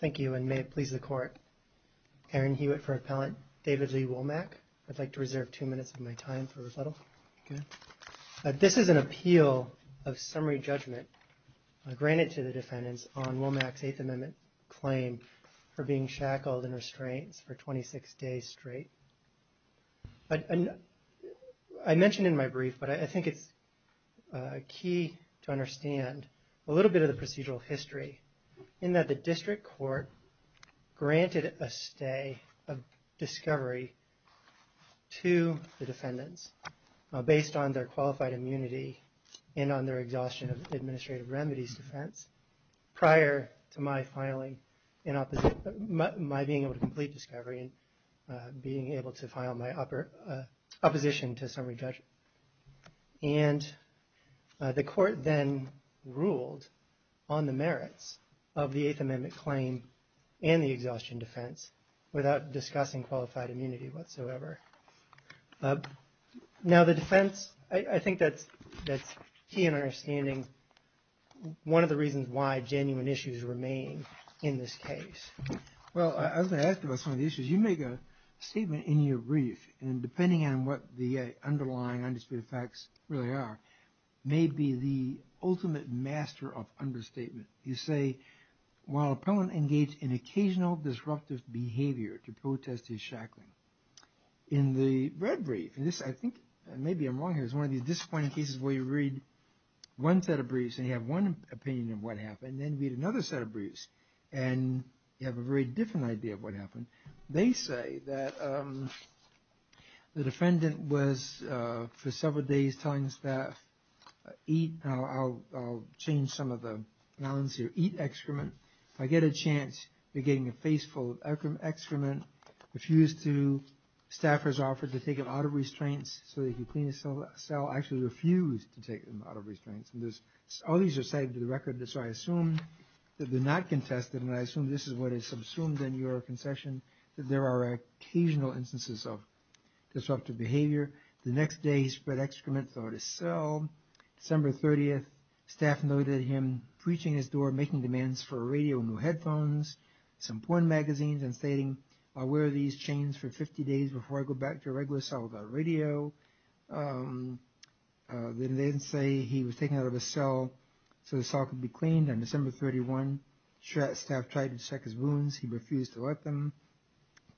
Thank you, and may it please the Court. Aaron Hewitt for Appellant David Lee Womack. I'd like to reserve two minutes of my time for rebuttal. This is an appeal of summary judgment granted to the defendants on Womack's Eighth Amendment claim for being shackled and restrained for 26 days straight. I mentioned in my brief, but I think it's key to understand a little bit of the procedural history in that the District Court granted a stay of discovery to the defendants based on their qualified immunity and on their exhaustion of administrative remedies defense prior to my being able to complete discovery and being able to file my opposition to summary judgment. And the Court then ruled on the merits of the Eighth Amendment claim and the exhaustion defense without discussing qualified immunity whatsoever. Now the defense, I think that's key in understanding one of the reasons why genuine issues remain in this case. Well, I was going to ask you about some of the issues. You make a statement in your brief, and depending on what the underlying undisputed facts really are, may be the ultimate master of understatement. You say, while Appellant engaged in occasional disruptive behavior to protest his shackling. In the red brief, and I think maybe I'm wrong here, it's one of these disappointing cases where you read one set of briefs and you have one opinion of what happened and then read another set of briefs and you have a very different idea of what happened. They say that the defendant was for several days telling the staff, eat, I'll change some of the nouns here, eat excrement. If I get a chance, you're getting a face full of excrement. Refused to, staffers offered to take him out of restraints so that he could clean his cell. Appellant actually refused to take him out of restraints. All these are cited to the record, so I assume that they're not contested, and I assume this is what is subsumed in your concession, that there are occasional instances of disruptive behavior. The next day, he spread excrement throughout his cell. December 30th, staff noted him preaching his door, making demands for a radio and new headphones, some porn magazines, and stating, I'll wear these chains for 50 days before I go back to a regular cell without a radio. They then say he was taken out of his cell so the cell could be cleaned on December 31. Staff tried to check his wounds. He refused to let them.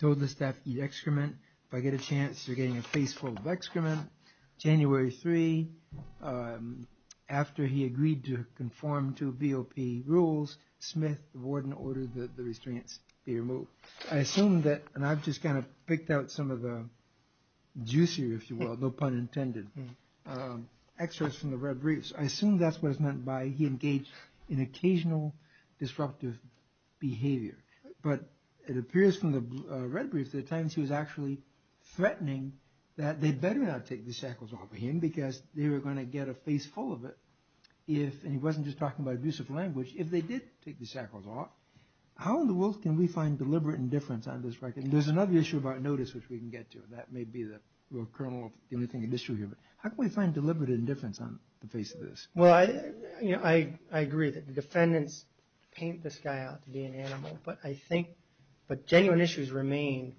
Told the staff, eat excrement. If I get a chance, you're getting a face full of excrement. January 3, after he agreed to conform to VOP rules, Smith, the warden, ordered that the restraints be removed. I assume that, and I've just kind of picked out some of the juicier, if you will, no pun intended, excerpts from the red briefs. I assume that's what is meant by he engaged in occasional disruptive behavior, but it appears from the red briefs that at times he was actually threatening that they better not take the shackles off him because they were going to get a face full of it if, and he wasn't just talking about abuse of language, if they did take the shackles off, how in the world can we find deliberate indifference on this record? There's another issue of our notice which we can get to. That may be the real kernel of the issue here. How can we find deliberate indifference on the face of this? Well, I agree that the defendants paint this guy out to be an animal, but I think, but genuine issues remain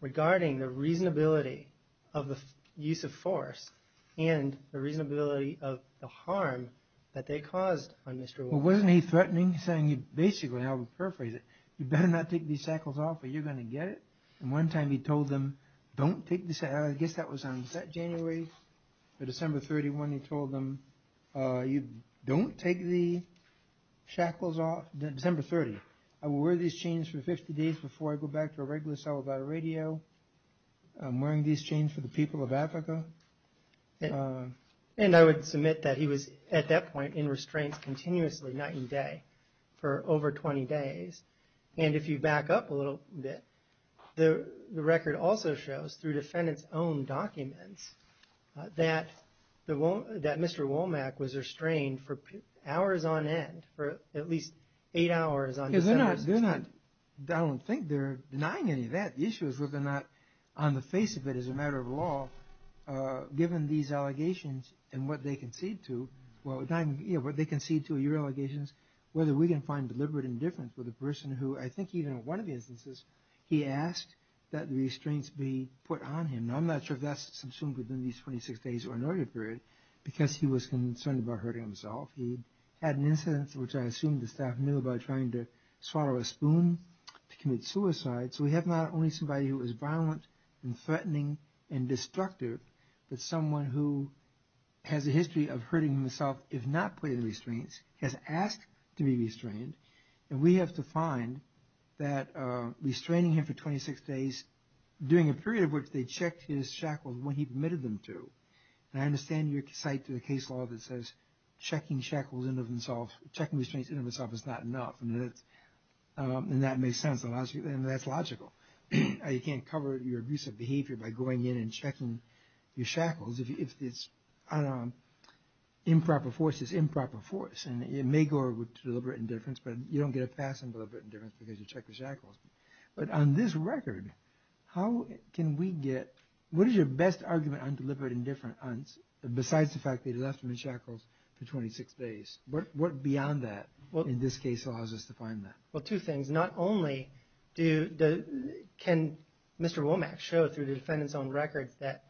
regarding the reasonability of the use of force and the reasonability of the harm that they caused on Mr. Wolf. Well, wasn't he threatening, saying basically, I'll paraphrase it, you better not take these shackles off or you're going to get it? And one time he told them, don't take the, I guess that was on, was that January or December 31 he told them, you don't take the shackles off, December 30. I will wear these chains for 50 days before I go back to a regular cell without a radio. I'm wearing these chains for the people of Africa. And I would submit that he was at that point in restraints continuously night and day for over 20 days. And if you back up a little bit, the record also shows through defendants' own documents that Mr. Womack was restrained for hours on end, for at least eight hours on December 31. I don't think they're denying any of that. The issue is whether or not on the face of it as a matter of law, given these allegations and what they concede to, what they concede to are your allegations, whether we can find deliberate indifference with a person who I think even in one of the instances he asked that the restraints be put on him. Now I'm not sure if that's assumed within these 26 days or an order period, because he was concerned about hurting himself. He had an incident which I assume the staff knew about trying to swallow a spoon to commit suicide. So we have not only somebody who is violent and threatening and destructive, but someone who has a history of hurting himself if not put in restraints, has asked to be restrained. And we have to find that restraining him for 26 days, during a period of which they checked his shackles when he permitted them to. And I understand your cite to the case law that says checking shackles and restraints in and of itself is not enough. And that makes sense, and that's logical. You can't cover your abusive behavior by going in and checking your shackles. If it's improper force, it's improper force. And it may go with deliberate indifference, but you don't get a pass on deliberate indifference because you checked the shackles. But on this record, how can we get, what is your best argument on deliberate indifference besides the fact that they left him in shackles for 26 days? What beyond that, in this case, allows us to find that? Well, two things. Not only can Mr. Womack show through the defendant's own records that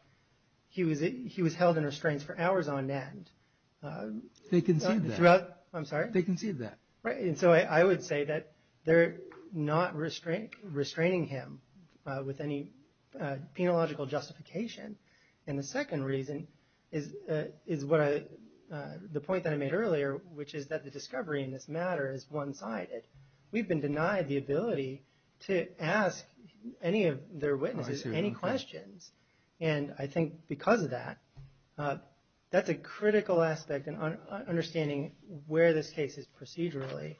he was held in restraints for hours on end. They conceded that. I'm sorry? They conceded that. And so I would say that they're not restraining him with any penological justification. And the second reason is the point that I made earlier, which is that the discovery in this matter is one-sided. We've been denied the ability to ask any of their witnesses any questions. And I think because of that, that's a critical aspect in understanding where this case is procedurally.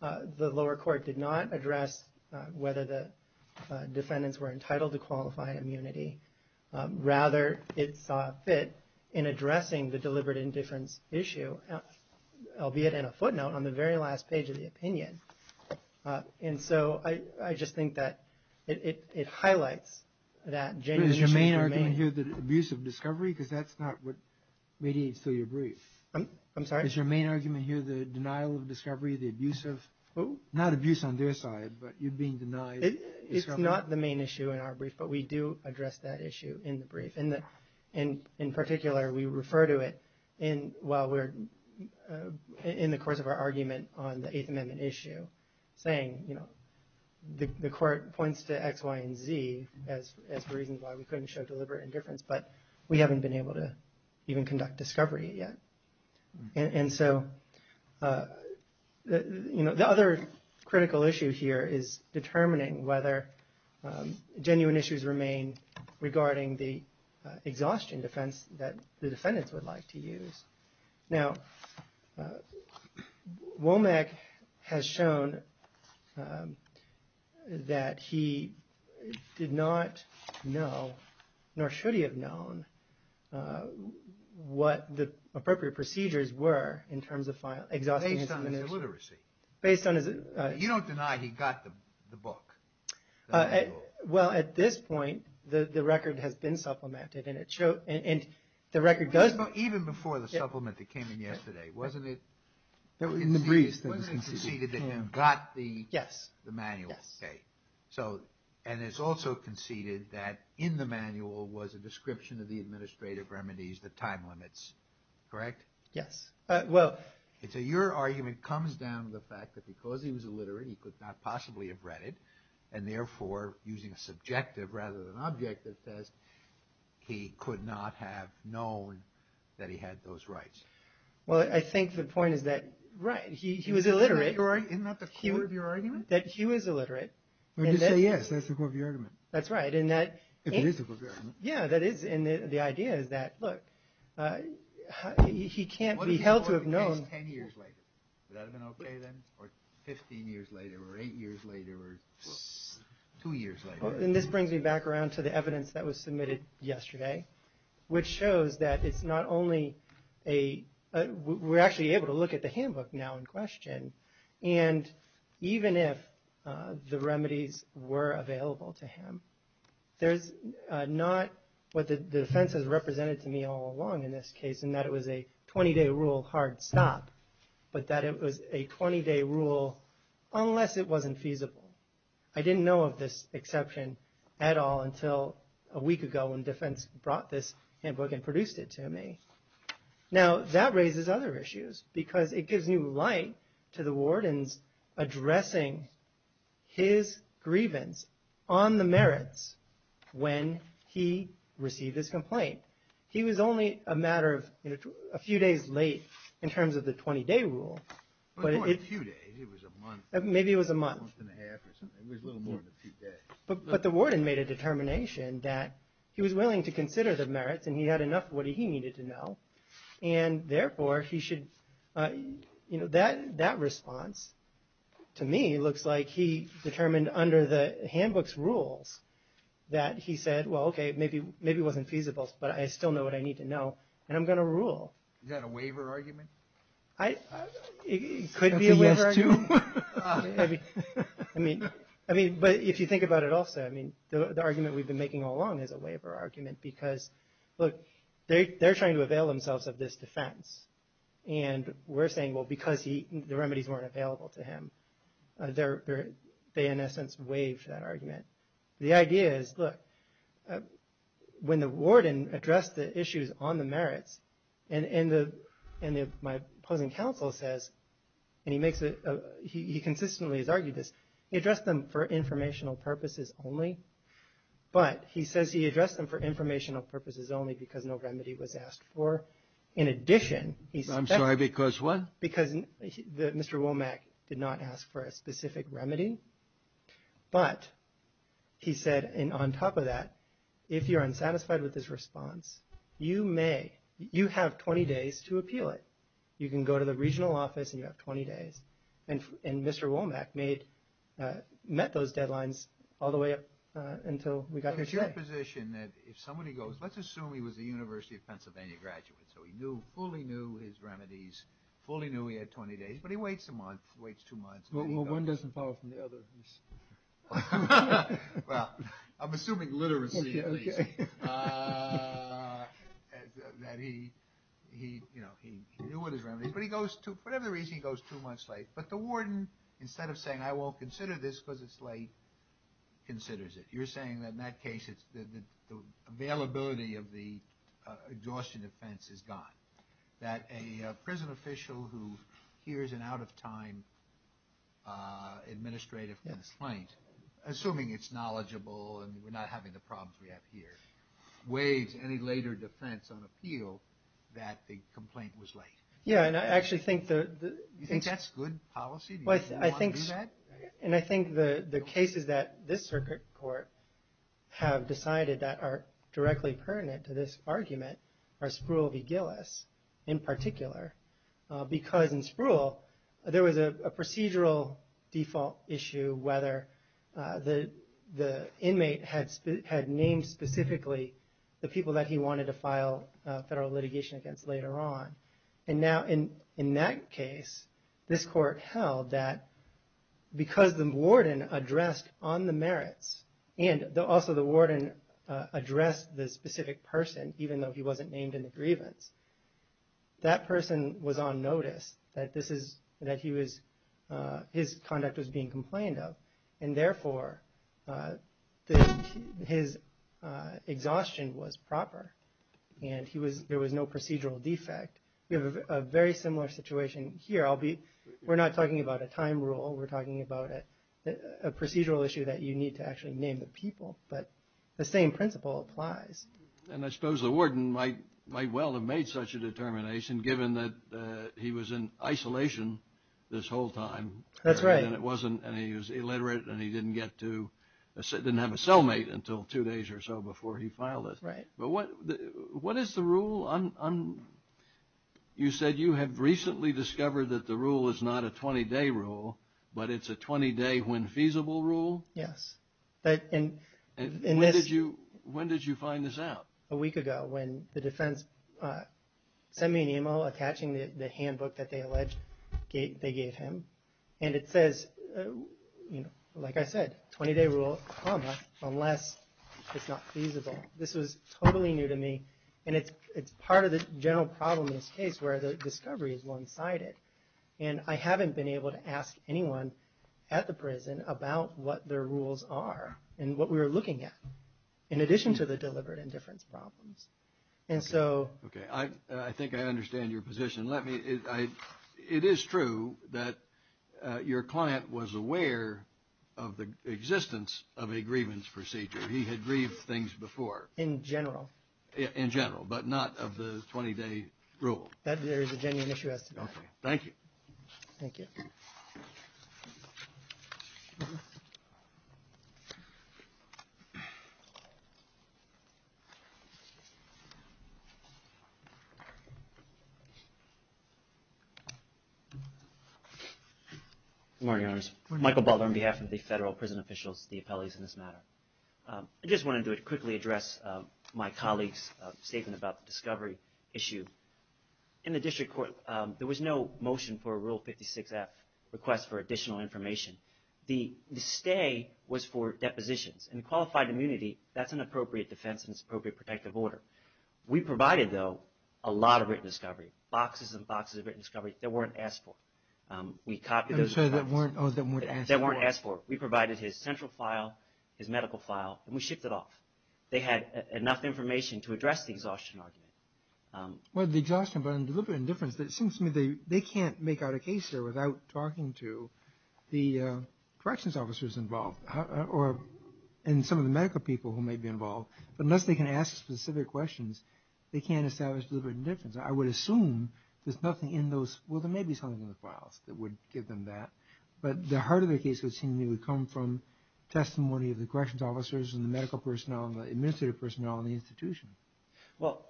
The lower court did not address whether the defendants were entitled to qualified immunity. Rather, it saw fit in addressing the deliberate indifference issue, albeit in a footnote, on the very last page of the opinion. And so I just think that it highlights that genuine issue. Is your main argument here the abuse of discovery? Because that's not what mediates to your brief. I'm sorry? Is your main argument here the denial of discovery, the abuse of, not abuse on their side, but you being denied discovery? It's not the main issue in our brief, but we do address that issue in the brief. In particular, we refer to it while we're in the course of our argument on the Eighth Amendment issue, saying the court points to X, Y, and Z as reasons why we couldn't show deliberate indifference, but we haven't been able to even conduct discovery yet. And so the other critical issue here is determining whether genuine issues remain regarding the exhaustion defense that the defendants would like to use. Now, Womack has shown that he did not know, nor should he have known, what the appropriate procedures were in terms of exhaustion defense. Based on his illiteracy. Based on his... You don't deny he got the book. Well, at this point, the record has been supplemented, and the record goes... Even before the supplement that came in yesterday, wasn't it conceded that he got the manual? Yes. And it's also conceded that in the manual was a description of the administrative remedies, the time limits, correct? Yes. So your argument comes down to the fact that because he was illiterate, he could not possibly have read it, and therefore, using a subjective rather than objective test, he could not have known that he had those rights. Well, I think the point is that, right, he was illiterate. Isn't that the core of your argument? That he was illiterate. Well, just say yes, that's the core of your argument. That's right. If it is the core of your argument. Yeah, that is. And the idea is that, look, he can't be held to have known... What if he wrote the case ten years later? Would that have been okay then? Or 15 years later? Or eight years later? Or two years later? And this brings me back around to the evidence that was submitted yesterday, which shows that it's not only a... We're actually able to look at the handbook now in question, and even if the remedies were available to him, there's not what the defense has represented to me all along in this case, in that it was a 20-day rule hard stop, but that it was a 20-day rule unless it wasn't feasible. I didn't know of this exception at all until a week ago when defense brought this handbook and produced it to me. Now, that raises other issues because it gives new light to the warden's addressing his grievance on the merits when he received his complaint. He was only a matter of a few days late in terms of the 20-day rule. It wasn't two days. It was a month. Maybe it was a month. A month and a half or something. It was a little more than a few days. But the warden made a determination that he was willing to consider the merits and he had enough of what he needed to know, and therefore he should... That response, to me, looks like he determined under the handbook's rules that he said, well, okay, maybe it wasn't feasible, but I still know what I need to know, and I'm going to rule. Is that a waiver argument? It could be a waiver argument. But if you think about it also, the argument we've been making all along is a waiver argument because, look, they're trying to avail themselves of this defense. And we're saying, well, because the remedies weren't available to him, they, in essence, waived that argument. The idea is, look, when the warden addressed the issues on the merits and my opposing counsel says, and he consistently has argued this, he addressed them for informational purposes only, but he says he addressed them for informational purposes only because no remedy was asked for. In addition, he said... I'm sorry, because what? Because Mr. Womack did not ask for a specific remedy. But he said, and on top of that, if you're unsatisfied with his response, you may, you have 20 days to appeal it. You can go to the regional office and you have 20 days. And Mr. Womack met those deadlines all the way up until we got here today. But it's your position that if somebody goes, let's assume he was a University of Pennsylvania graduate, so he knew, fully knew his remedies, fully knew he had 20 days, but he waits a month, waits two months. Well, one doesn't follow from the other. Well, I'm assuming literacy. That he, you know, he knew what his remedies were. But he goes, for whatever reason, he goes two months late. But the warden, instead of saying, I won't consider this because it's late, considers it. You're saying that in that case, the availability of the exhaustion defense is gone. That a prison official who hears an out-of-time administrative complaint, assuming it's knowledgeable and we're not having the problems we have here, waives any later defense on appeal that the complaint was late. Yeah, and I actually think the... You think that's good policy? Do you want to do that? And I think the cases that this circuit court have decided that are directly pertinent to this argument are Spruill v. Gillis in particular. Because in Spruill, there was a procedural default issue, whether the inmate had named specifically the people that he wanted to file federal litigation against later on. And now in that case, this court held that because the warden addressed on the merits, and also the warden addressed the specific person, even though he wasn't named in the grievance, that person was on notice that his conduct was being complained of. And there was no procedural defect. We have a very similar situation here. We're not talking about a time rule. We're talking about a procedural issue that you need to actually name the people. But the same principle applies. And I suppose the warden might well have made such a determination, given that he was in isolation this whole time. That's right. And he was illiterate, and he didn't have a cellmate until two days or so before he filed it. That's right. But what is the rule? You said you have recently discovered that the rule is not a 20-day rule, but it's a 20-day when feasible rule? Yes. When did you find this out? A week ago, when the defense sent me an email attaching the handbook that they alleged they gave him. And it says, like I said, 20-day rule, unless it's not feasible. This was totally new to me. And it's part of the general problem in this case, where the discovery is one-sided. And I haven't been able to ask anyone at the prison about what their rules are and what we were looking at, in addition to the deliberate indifference problems. Okay. I think I understand your position. It is true that your client was aware of the existence of a grievance procedure. He had grieved things before. In general. In general, but not of the 20-day rule. That there is a genuine issue as to that. Okay. Thank you. Thank you. Good morning, Your Honors. Michael Baldwin on behalf of the federal prison officials, the appellees in this matter. I just wanted to quickly address my colleague's statement about the discovery issue. In the district court, there was no motion for a Rule 56F request for additional information. The stay was for depositions. And qualified immunity, that's an appropriate defense and it's an appropriate protective order. We provided, though, a lot of written discovery. Boxes and boxes of written discovery that weren't asked for. We copied those. I'm sorry, that weren't asked for. That weren't asked for. We provided his central file, his medical file, and we shipped it off. They had enough information to address the exhaustion argument. Well, the exhaustion, but deliberate indifference. It seems to me they can't make out a case here without talking to the corrections officers involved. Or some of the medical people who may be involved. Unless they can ask specific questions, they can't establish deliberate indifference. I would assume there's nothing in those. Well, there may be something in the files that would give them that. But the heart of the case would seem to me would come from testimony of the corrections officers and the medical personnel and the administrative personnel and the institution. Well,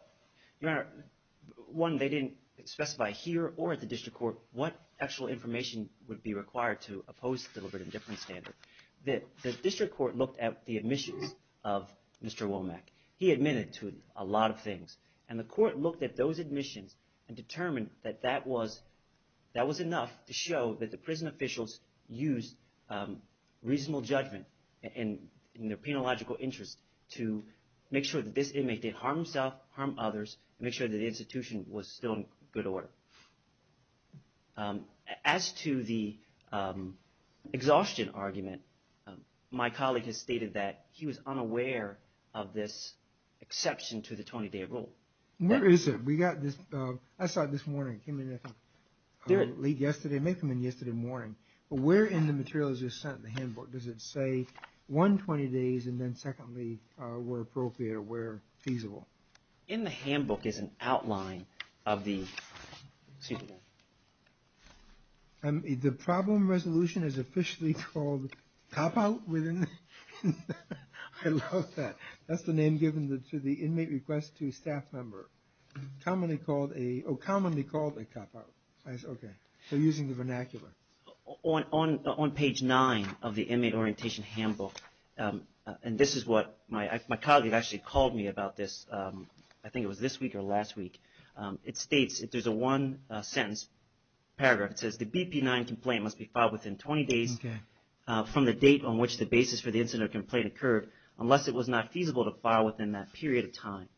Your Honor, one, they didn't specify here or at the district court what actual information would be required to oppose deliberate indifference standards. The district court looked at the admissions of Mr. Womack. He admitted to a lot of things, and the court looked at those admissions and determined that that was enough to show that the prison officials used reasonable judgment in their penological interest to make sure that this inmate did harm himself, harm others, and make sure that the institution was still in good order. As to the exhaustion argument, my colleague has stated that he was unaware of this exception to the 20-day rule. Where is it? I saw it this morning. It came in yesterday morning. Where in the material is it sent in the handbook? Does it say one, 20 days, and then secondly, where appropriate or where feasible? In the handbook is an outline of the... The problem resolution is officially called cop-out? I love that. That's the name given to the inmate request to staff member. Commonly called a cop-out. Okay, so using the vernacular. On page 9 of the inmate orientation handbook, and this is what my colleague actually called me about this. I think it was this week or last week. It states, there's a one-sentence paragraph. It says the BP-9 complaint must be filed within 20 days from the date on which the basis for the incident or complaint occurred, unless it was not feasible to file within that period of time.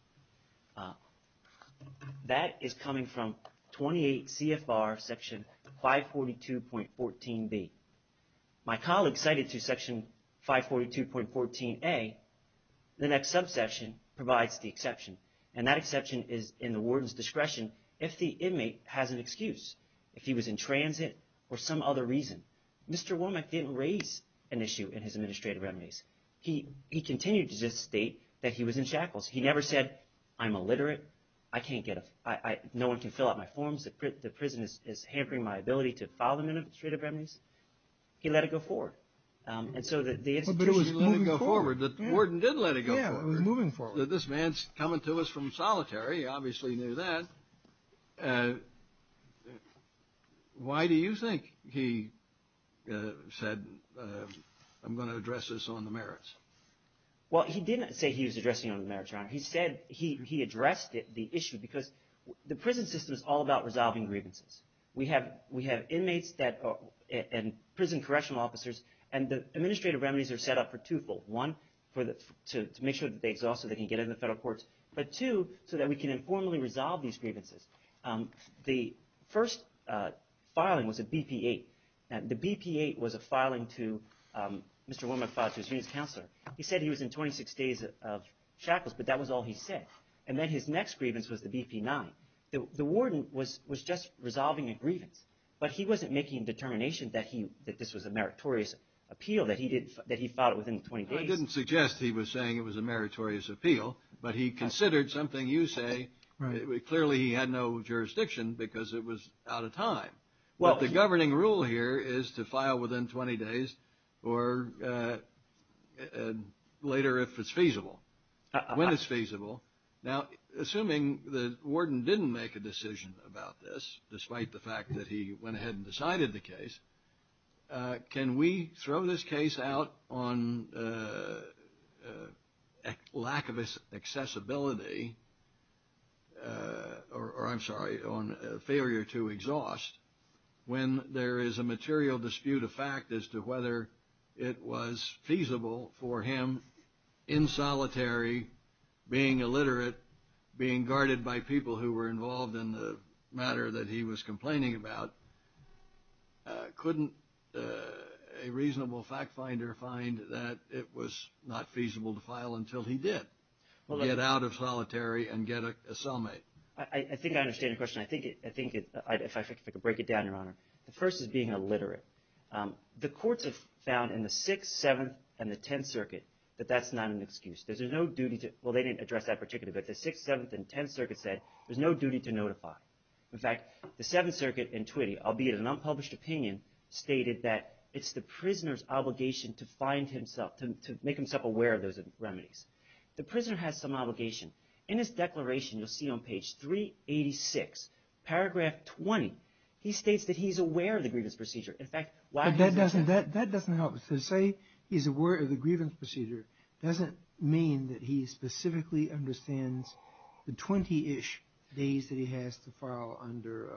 That is coming from 28 CFR section 542.14B. My colleague cited through section 542.14A, the next subsection provides the exception. And that exception is in the warden's discretion if the inmate has an excuse. If he was in transit or some other reason. Mr. Wormack didn't raise an issue in his administrative remedies. He continued to just state that he was in shackles. He never said, I'm illiterate. I can't get a – no one can fill out my forms. The prison is hampering my ability to file administrative remedies. He let it go forward. And so the institution – But it was moving forward. The warden did let it go forward. Yeah, it was moving forward. This man's coming to us from solitary. He obviously knew that. Why do you think he said, I'm going to address this on the merits? Well, he didn't say he was addressing it on the merits, Your Honor. He said he addressed the issue because the prison system is all about resolving grievances. We have inmates and prison correctional officers, and the administrative remedies are set up for twofold. One, to make sure that they exhaust so they can get into the federal courts. But two, so that we can informally resolve these grievances. The first filing was a BP-8. Now, the BP-8 was a filing to Mr. Wormack-Fodge, who's the unit's counselor. He said he was in 26 days of shackles, but that was all he said. And then his next grievance was the BP-9. The warden was just resolving a grievance, but he wasn't making a determination that this was a meritorious appeal, that he filed it within 20 days. I didn't suggest he was saying it was a meritorious appeal, but he considered something you say. Clearly, he had no jurisdiction because it was out of time. Well, the governing rule here is to file within 20 days or later if it's feasible, when it's feasible. Now, assuming the warden didn't make a decision about this, despite the fact that he went ahead and decided the case, can we throw this case out on lack of accessibility, or I'm sorry, on failure to exhaust, when there is a material dispute of fact as to whether it was feasible for him, in solitary, being illiterate, being guarded by people who were involved in the matter that he was complaining about, couldn't a reasonable fact finder find that it was not feasible to file until he did, get out of solitary and get a cellmate? I think I understand your question. I think, if I could break it down, Your Honor, the first is being illiterate. The courts have found in the Sixth, Seventh, and the Tenth Circuit that that's not an excuse. There's no duty to, well, they didn't address that particularly, but the Sixth, Seventh, and Tenth Circuit said there's no duty to notify. In fact, the Seventh Circuit in Twitty, albeit an unpublished opinion, stated that it's the prisoner's obligation to find himself, to make himself aware of those remedies. The prisoner has some obligation. In his declaration, you'll see on page 386, paragraph 20, he states that he's aware of the grievance procedure. That doesn't help. To say he's aware of the grievance procedure doesn't mean that he specifically understands the 20-ish days that he has to file under,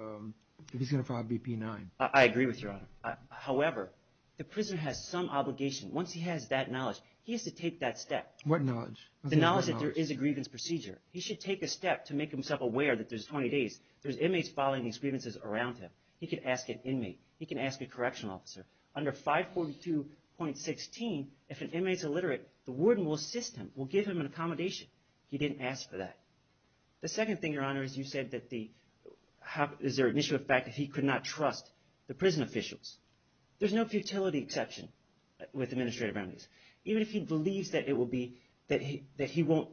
if he's going to file BP-9. I agree with you, Your Honor. However, the prisoner has some obligation. Once he has that knowledge, he has to take that step. What knowledge? The knowledge that there is a grievance procedure. He should take a step to make himself aware that there's 20 days. There's inmates filing these grievances around him. He can ask an inmate. He can ask a correctional officer. Under 542.16, if an inmate's illiterate, the warden will assist him, will give him an accommodation. He didn't ask for that. The second thing, Your Honor, is you said that the – is there an issue of fact that he could not trust the prison officials. There's no futility exception with administrative remedies. Even if he believes that it will be – that he won't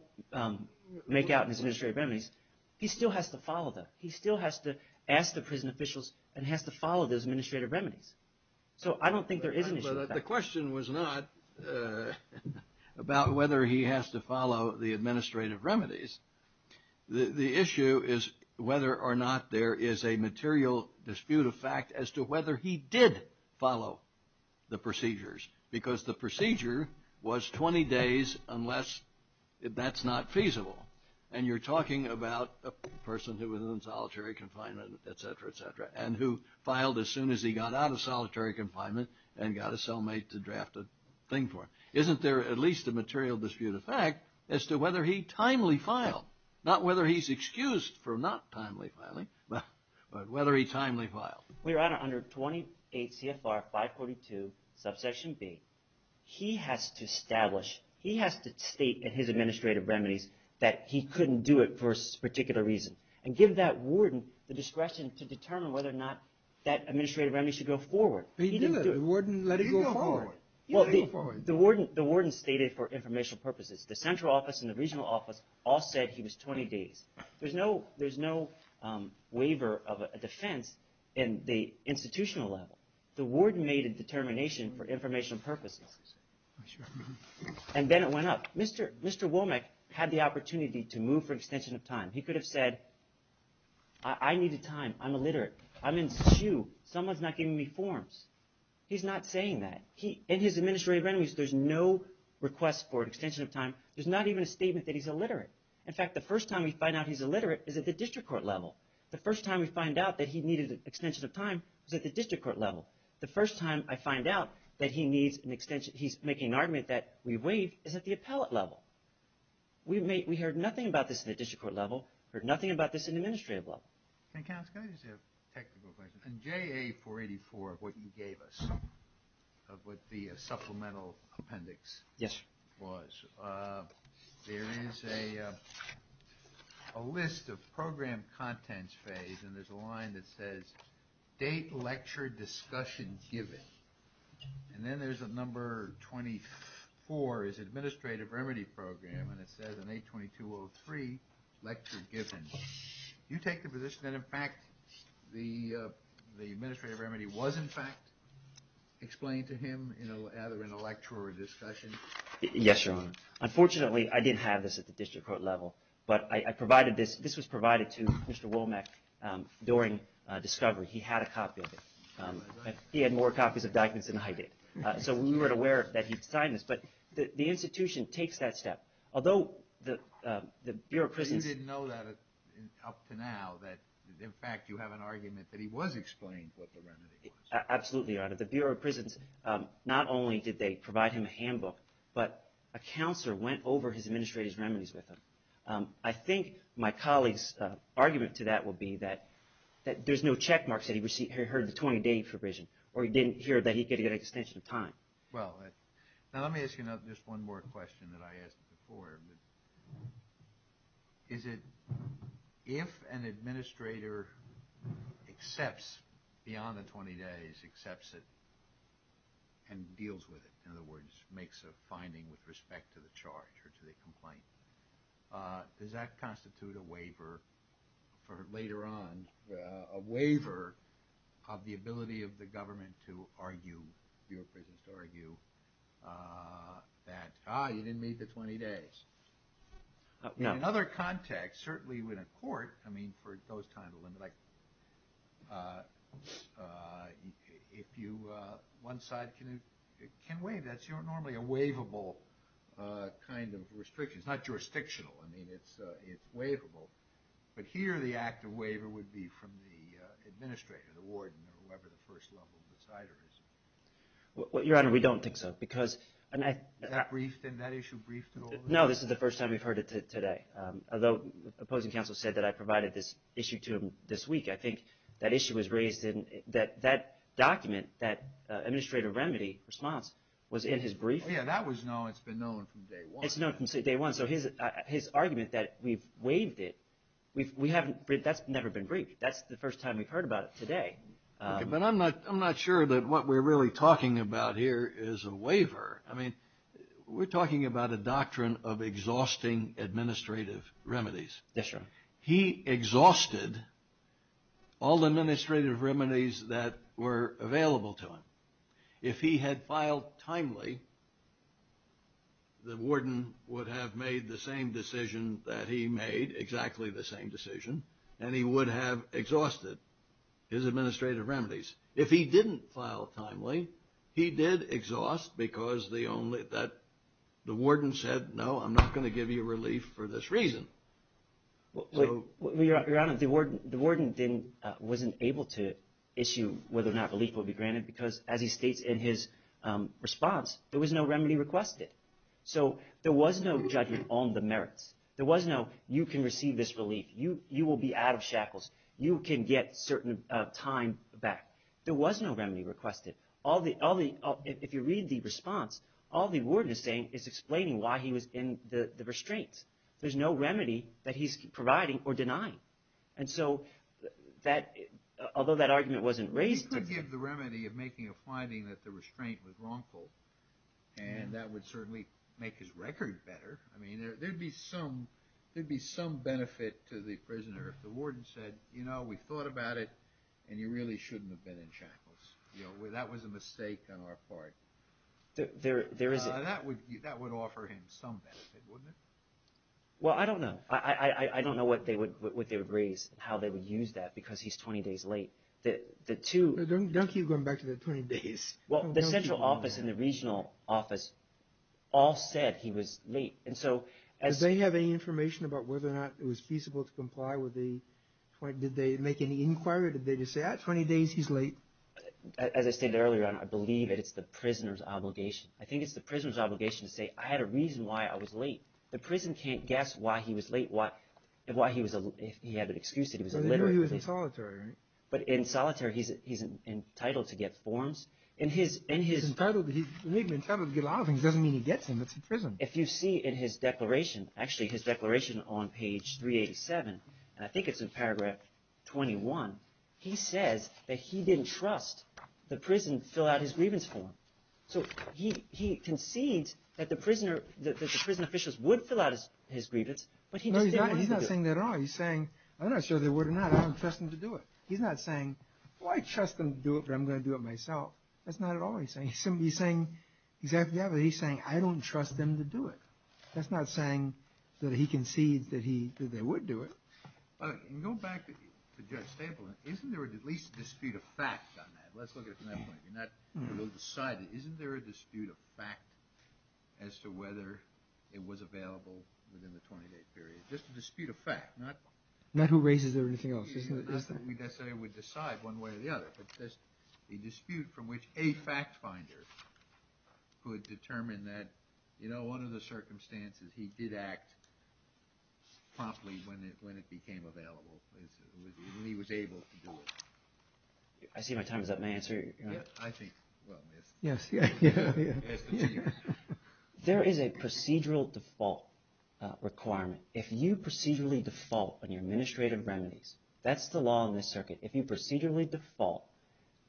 make out in his administrative remedies, he still has to follow them. He still has to ask the prison officials and has to follow those administrative remedies. So I don't think there is an issue of fact. Well, the question was not about whether he has to follow the administrative remedies. The issue is whether or not there is a material dispute of fact as to whether he did follow the procedures because the procedure was 20 days unless that's not feasible. And you're talking about a person who was in solitary confinement, et cetera, et cetera, and who filed as soon as he got out of solitary confinement and got a cellmate to draft a thing for him. Isn't there at least a material dispute of fact as to whether he timely filed? Not whether he's excused for not timely filing, but whether he timely filed. Your Honor, under 28 CFR 542, subsection B, he has to establish – he has to state in his administrative remedies that he couldn't do it for a particular reason and give that warden the discretion to determine whether or not that administrative remedy should go forward. He didn't do it. The warden let it go forward. He let it go forward. The warden stated for informational purposes. The central office and the regional office all said he was 20 days. There's no waiver of a defense in the institutional level. The warden made a determination for informational purposes. And then it went up. Mr. Womack had the opportunity to move for extension of time. He could have said, I need a time. I'm illiterate. I'm in Sioux. Someone's not giving me forms. He's not saying that. In his administrative remedies, there's no request for extension of time. There's not even a statement that he's illiterate. In fact, the first time we find out he's illiterate is at the district court level. The first time we find out that he needed an extension of time is at the district court level. The first time I find out that he needs an extension – he's making an argument that we waive is at the appellate level. We heard nothing about this in the district court level. We heard nothing about this in the administrative level. Can I ask a technical question? In JA-484, what you gave us, what the supplemental appendix was, there is a list of program contents phase, and there's a line that says, date, lecture, discussion given. And then there's a number 24 is administrative remedy program, and it says on 8-2203, lecture given. You take the position that, in fact, the administrative remedy was, in fact, explained to him either in a lecture or a discussion? Yes, Your Honor. Unfortunately, I didn't have this at the district court level, but I provided this. This was provided to Mr. Womack during discovery. He had a copy of it. He had more copies of documents than I did. So we weren't aware that he'd signed this, but the institution takes that step. Although the Bureau of Prisons – You didn't know that up to now that, in fact, you have an argument that he was explained what the remedy was. Absolutely, Your Honor. The Bureau of Prisons, not only did they provide him a handbook, but a counselor went over his administrative remedies with him. I think my colleague's argument to that would be that there's no checkmark that he heard the 20-day provision or he didn't hear that he could get an extension of time. Well, now let me ask you just one more question that I asked before. If an administrator accepts beyond the 20 days, accepts it and deals with it, in other words, makes a finding with respect to the charge or to the complaint, does that constitute a waiver for later on, a waiver of the ability of the government to argue, the Bureau of Prisons to argue, that, ah, you didn't meet the 20 days? No. In another context, certainly in a court, I mean, for those times, like if you – one side can waive. That's normally a waivable kind of restriction. It's not jurisdictional. I mean, it's waivable. But here the act of waiver would be from the administrator, the warden, or whoever the first level decider is. Your Honor, we don't think so because – Is that briefed? Is that issue briefed at all? No, this is the first time we've heard it today. Although opposing counsel said that I provided this issue to him this week, I think that issue was raised in – that document, that administrative remedy response, was in his brief. Oh, yeah, that was known. It's been known from day one. It's known from day one. So his argument that we've waived it, we haven't – that's never been briefed. That's the first time we've heard about it today. But I'm not sure that what we're really talking about here is a waiver. I mean, we're talking about a doctrine of exhausting administrative remedies. Yes, Your Honor. He exhausted all the administrative remedies that were available to him. If he had filed timely, the warden would have made the same decision that he made, exactly the same decision, and he would have exhausted his administrative remedies. If he didn't file timely, he did exhaust because the only – that the warden said, no, I'm not going to give you relief for this reason. Your Honor, the warden wasn't able to issue whether or not relief would be granted because, as he states in his response, there was no remedy requested. So there was no judging on the merits. There was no, you can receive this relief. You will be out of shackles. You can get certain time back. There was no remedy requested. All the – if you read the response, all the warden is saying is explaining why he was in the restraint. There's no remedy that he's providing or denying. And so that – although that argument wasn't raised – He could give the remedy of making a finding that the restraint was wrongful, and that would certainly make his record better. I mean, there would be some benefit to the prisoner if the warden said, you know, we thought about it, and you really shouldn't have been in shackles. That was a mistake on our part. There isn't. That would offer him some benefit, wouldn't it? Well, I don't know. I don't know what they would raise and how they would use that because he's 20 days late. The two – Don't keep going back to the 20 days. Well, the central office and the regional office all said he was late. And so as – Did they have any information about whether or not it was feasible to comply with the – did they make any inquiry or did they just say, ah, 20 days, he's late? As I stated earlier, I believe that it's the prisoner's obligation. I think it's the prisoner's obligation to say, I had a reason why I was late. The prison can't guess why he was late, why he was – if he had an excuse that he was late. So they knew he was in solitary, right? But in solitary he's entitled to get forms. In his – He's entitled to get a lot of things. It doesn't mean he gets them. It's a prison. If you see in his declaration, actually his declaration on page 387, and I think it's in paragraph 21, he says that he didn't trust the prison to fill out his grievance form. So he concedes that the prisoner – that the prison officials would fill out his grievance, but he just didn't want to do it. No, he's not saying that at all. He's saying, I'm not sure they would or not. I don't trust them to do it. He's not saying, well, I trust them to do it, but I'm going to do it myself. That's not at all what he's saying. He's saying exactly that, but he's saying, I don't trust them to do it. That's not saying that he concedes that he – that they would do it. And go back to Judge Staple, isn't there at least a dispute of fact on that? Let's look at it from that point of view. Not – we'll decide that. Isn't there a dispute of fact as to whether it was available within the 20-day period? Just a dispute of fact, not – It's not that we necessarily would decide one way or the other, but there's a dispute from which a fact finder could determine that, you know, under the circumstances, he did act promptly when it became available, when he was able to do it. I see my time is up. May I answer? I think – well, yes. Yes, yeah, yeah. There is a procedural default requirement. If you procedurally default on your administrative remedies, that's the law in this circuit. If you procedurally default,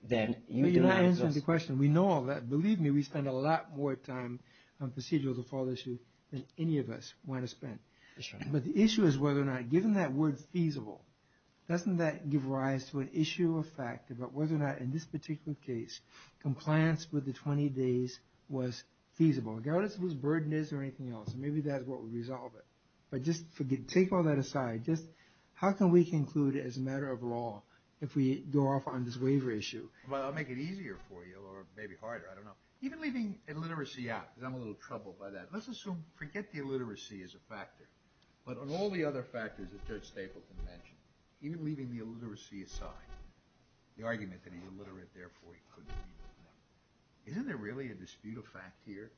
then you do not – But you're not answering the question. We know all that. Believe me, we spend a lot more time on procedural default issues than any of us want to spend. That's right. But the issue is whether or not, given that word feasible, doesn't that give rise to an issue of fact about whether or not in this particular case compliance with the 20 days was feasible? Regardless of whose burden it is or anything else, maybe that's what would resolve it. But just take all that aside. Just how can we conclude as a matter of law if we go off on this waiver issue? Well, I'll make it easier for you or maybe harder. I don't know. Even leaving illiteracy out, because I'm a little troubled by that. Let's assume – forget the illiteracy as a factor. But on all the other factors that Judge Stapleton mentioned, even leaving the illiteracy aside, the argument that he's illiterate, therefore he couldn't be. Isn't there really a dispute of fact here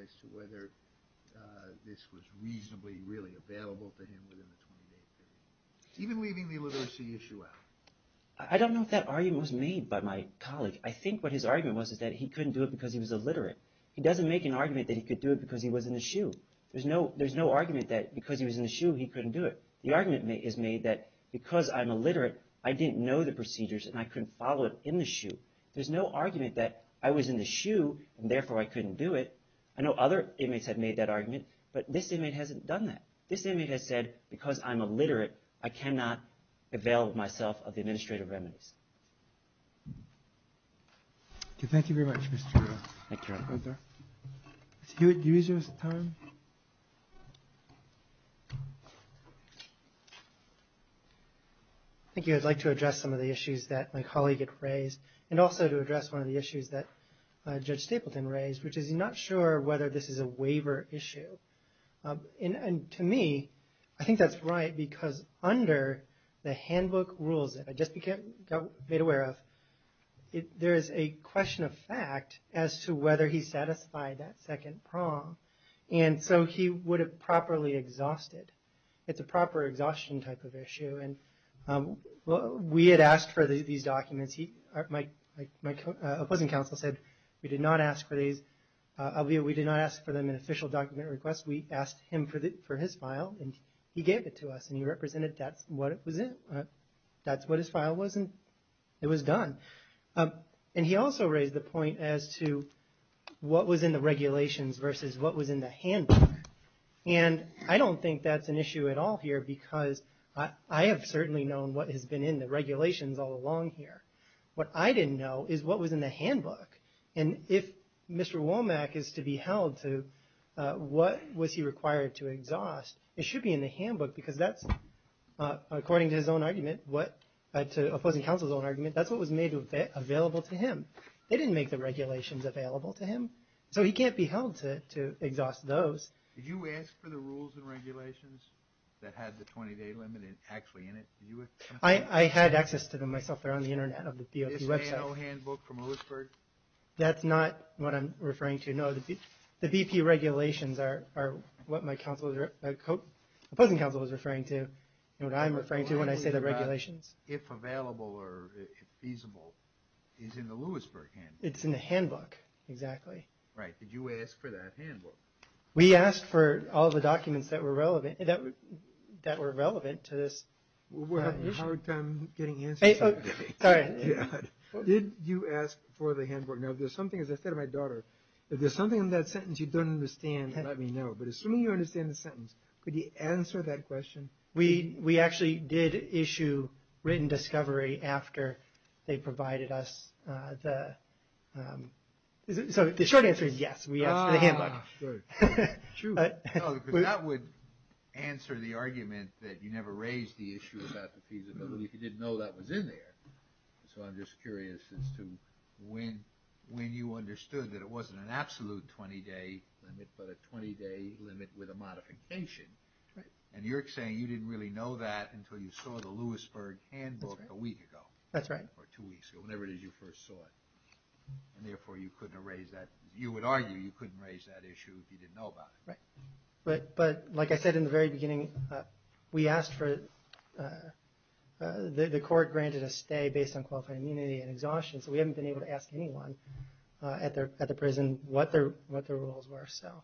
as to whether this was reasonably, really available to him within the 20-day period? Even leaving the illiteracy issue out. I don't know if that argument was made by my colleague. I think what his argument was is that he couldn't do it because he was illiterate. He doesn't make an argument that he could do it because he was in a shoe. There's no argument that because he was in a shoe, he couldn't do it. The argument is made that because I'm illiterate, I didn't know the procedures and I couldn't follow it in the shoe. There's no argument that I was in the shoe, and therefore I couldn't do it. I know other inmates have made that argument, but this inmate hasn't done that. This inmate has said, because I'm illiterate, I cannot avail myself of the administrative remedies. Thank you very much, Mr. Arthur. Thank you, Your Honor. Mr. Hewitt, do you wish to have some time? Thank you. I'd like to address some of the issues that my colleague had raised and also to address one of the issues that Judge Stapleton raised, which is he's not sure whether this is a waiver issue. To me, I think that's right because under the handbook rules that I just got made aware of, there is a question of fact as to whether he satisfied that second prong, and so he would have properly exhausted. It's a proper exhaustion type of issue. We had asked for these documents. My opposing counsel said we did not ask for these. We did not ask for them in official document request. We asked him for his file, and he gave it to us, and he represented that's what it was in. That's what his file was, and it was done. He also raised the point as to what was in the regulations versus what was in the handbook. I don't think that's an issue at all here because I have certainly known what has been in the regulations all along here. What I didn't know is what was in the handbook, and if Mr. Womack is to be held to what was he required to exhaust, it should be in the handbook because that's, according to his own argument, to opposing counsel's own argument, that's what was made available to him. They didn't make the regulations available to him, so he can't be held to exhaust those. Did you ask for the rules and regulations that had the 20-day limit actually in it? I had access to them myself. They're on the internet of the DOP website. This handbook from Lewisburg? That's not what I'm referring to, no. The BP regulations are what my opposing counsel was referring to and what I'm referring to when I say the regulations. If available or feasible is in the Lewisburg handbook. Right. Did you ask for that handbook? We asked for all the documents that were relevant to this. We're having a hard time getting answers. Sorry. Did you ask for the handbook? Now, if there's something, as I said to my daughter, if there's something in that sentence you don't understand, let me know, but assuming you understand the sentence, could you answer that question? We actually did issue written discovery after they provided us the… So the short answer is yes, we asked for the handbook. True. That would answer the argument that you never raised the issue about the feasibility. You didn't know that was in there. So I'm just curious as to when you understood that it wasn't an absolute 20-day limit, but a 20-day limit with a modification. And you're saying you didn't really know that until you saw the Lewisburg handbook a week ago. That's right. Or two weeks ago, whenever it is you first saw it. And therefore, you couldn't have raised that. You would argue you couldn't have raised that issue if you didn't know about it. Right. But like I said in the very beginning, we asked for it. The court granted a stay based on qualified immunity and exhaustion, so we haven't been able to ask anyone at the prison what their rules were. So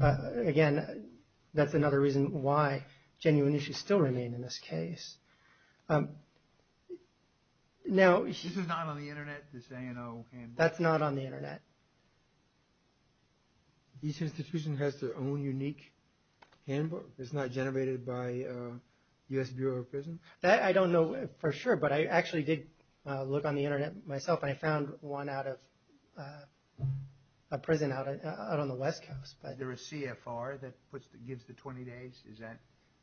again, that's another reason why genuine issues still remain in this case. This is not on the Internet, this ANO handbook? That's not on the Internet. Each institution has their own unique handbook. It's not generated by U.S. Bureau of Prisons? I don't know for sure, but I actually did look on the Internet myself and I found one out of a prison out on the West Coast. Is there a CFR that gives the 20 days?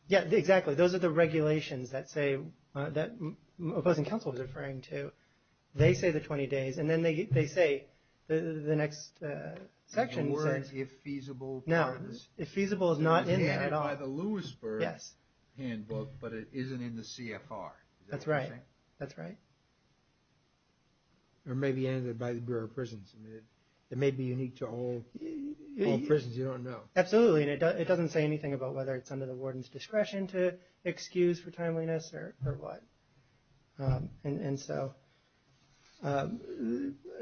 Yeah, exactly. Those are the regulations that Opposing Counsel was referring to. They say the 20 days, and then they say the next section says… The word if feasible… No, if feasible is not in there at all. It's handed by the Lewisburg handbook, but it isn't in the CFR. That's right. Or maybe handed by the Bureau of Prisons. It may be unique to all prisons you don't know. Absolutely. It doesn't say anything about whether it's under the warden's discretion to excuse for timeliness or what.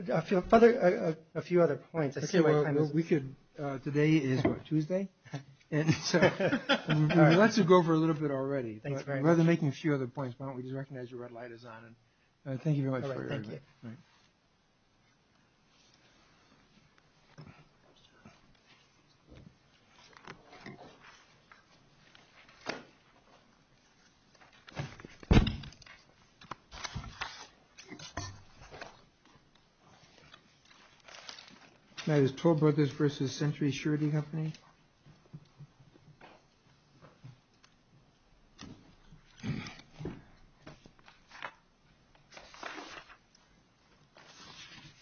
A few other points. Today is Tuesday. We'd be glad to go for a little bit already. Rather than making a few other points, why don't we just recognize the red light is on. Thank you very much. All right. Thank you. Thank you. That is Tore Brothers v. Century Surety Company.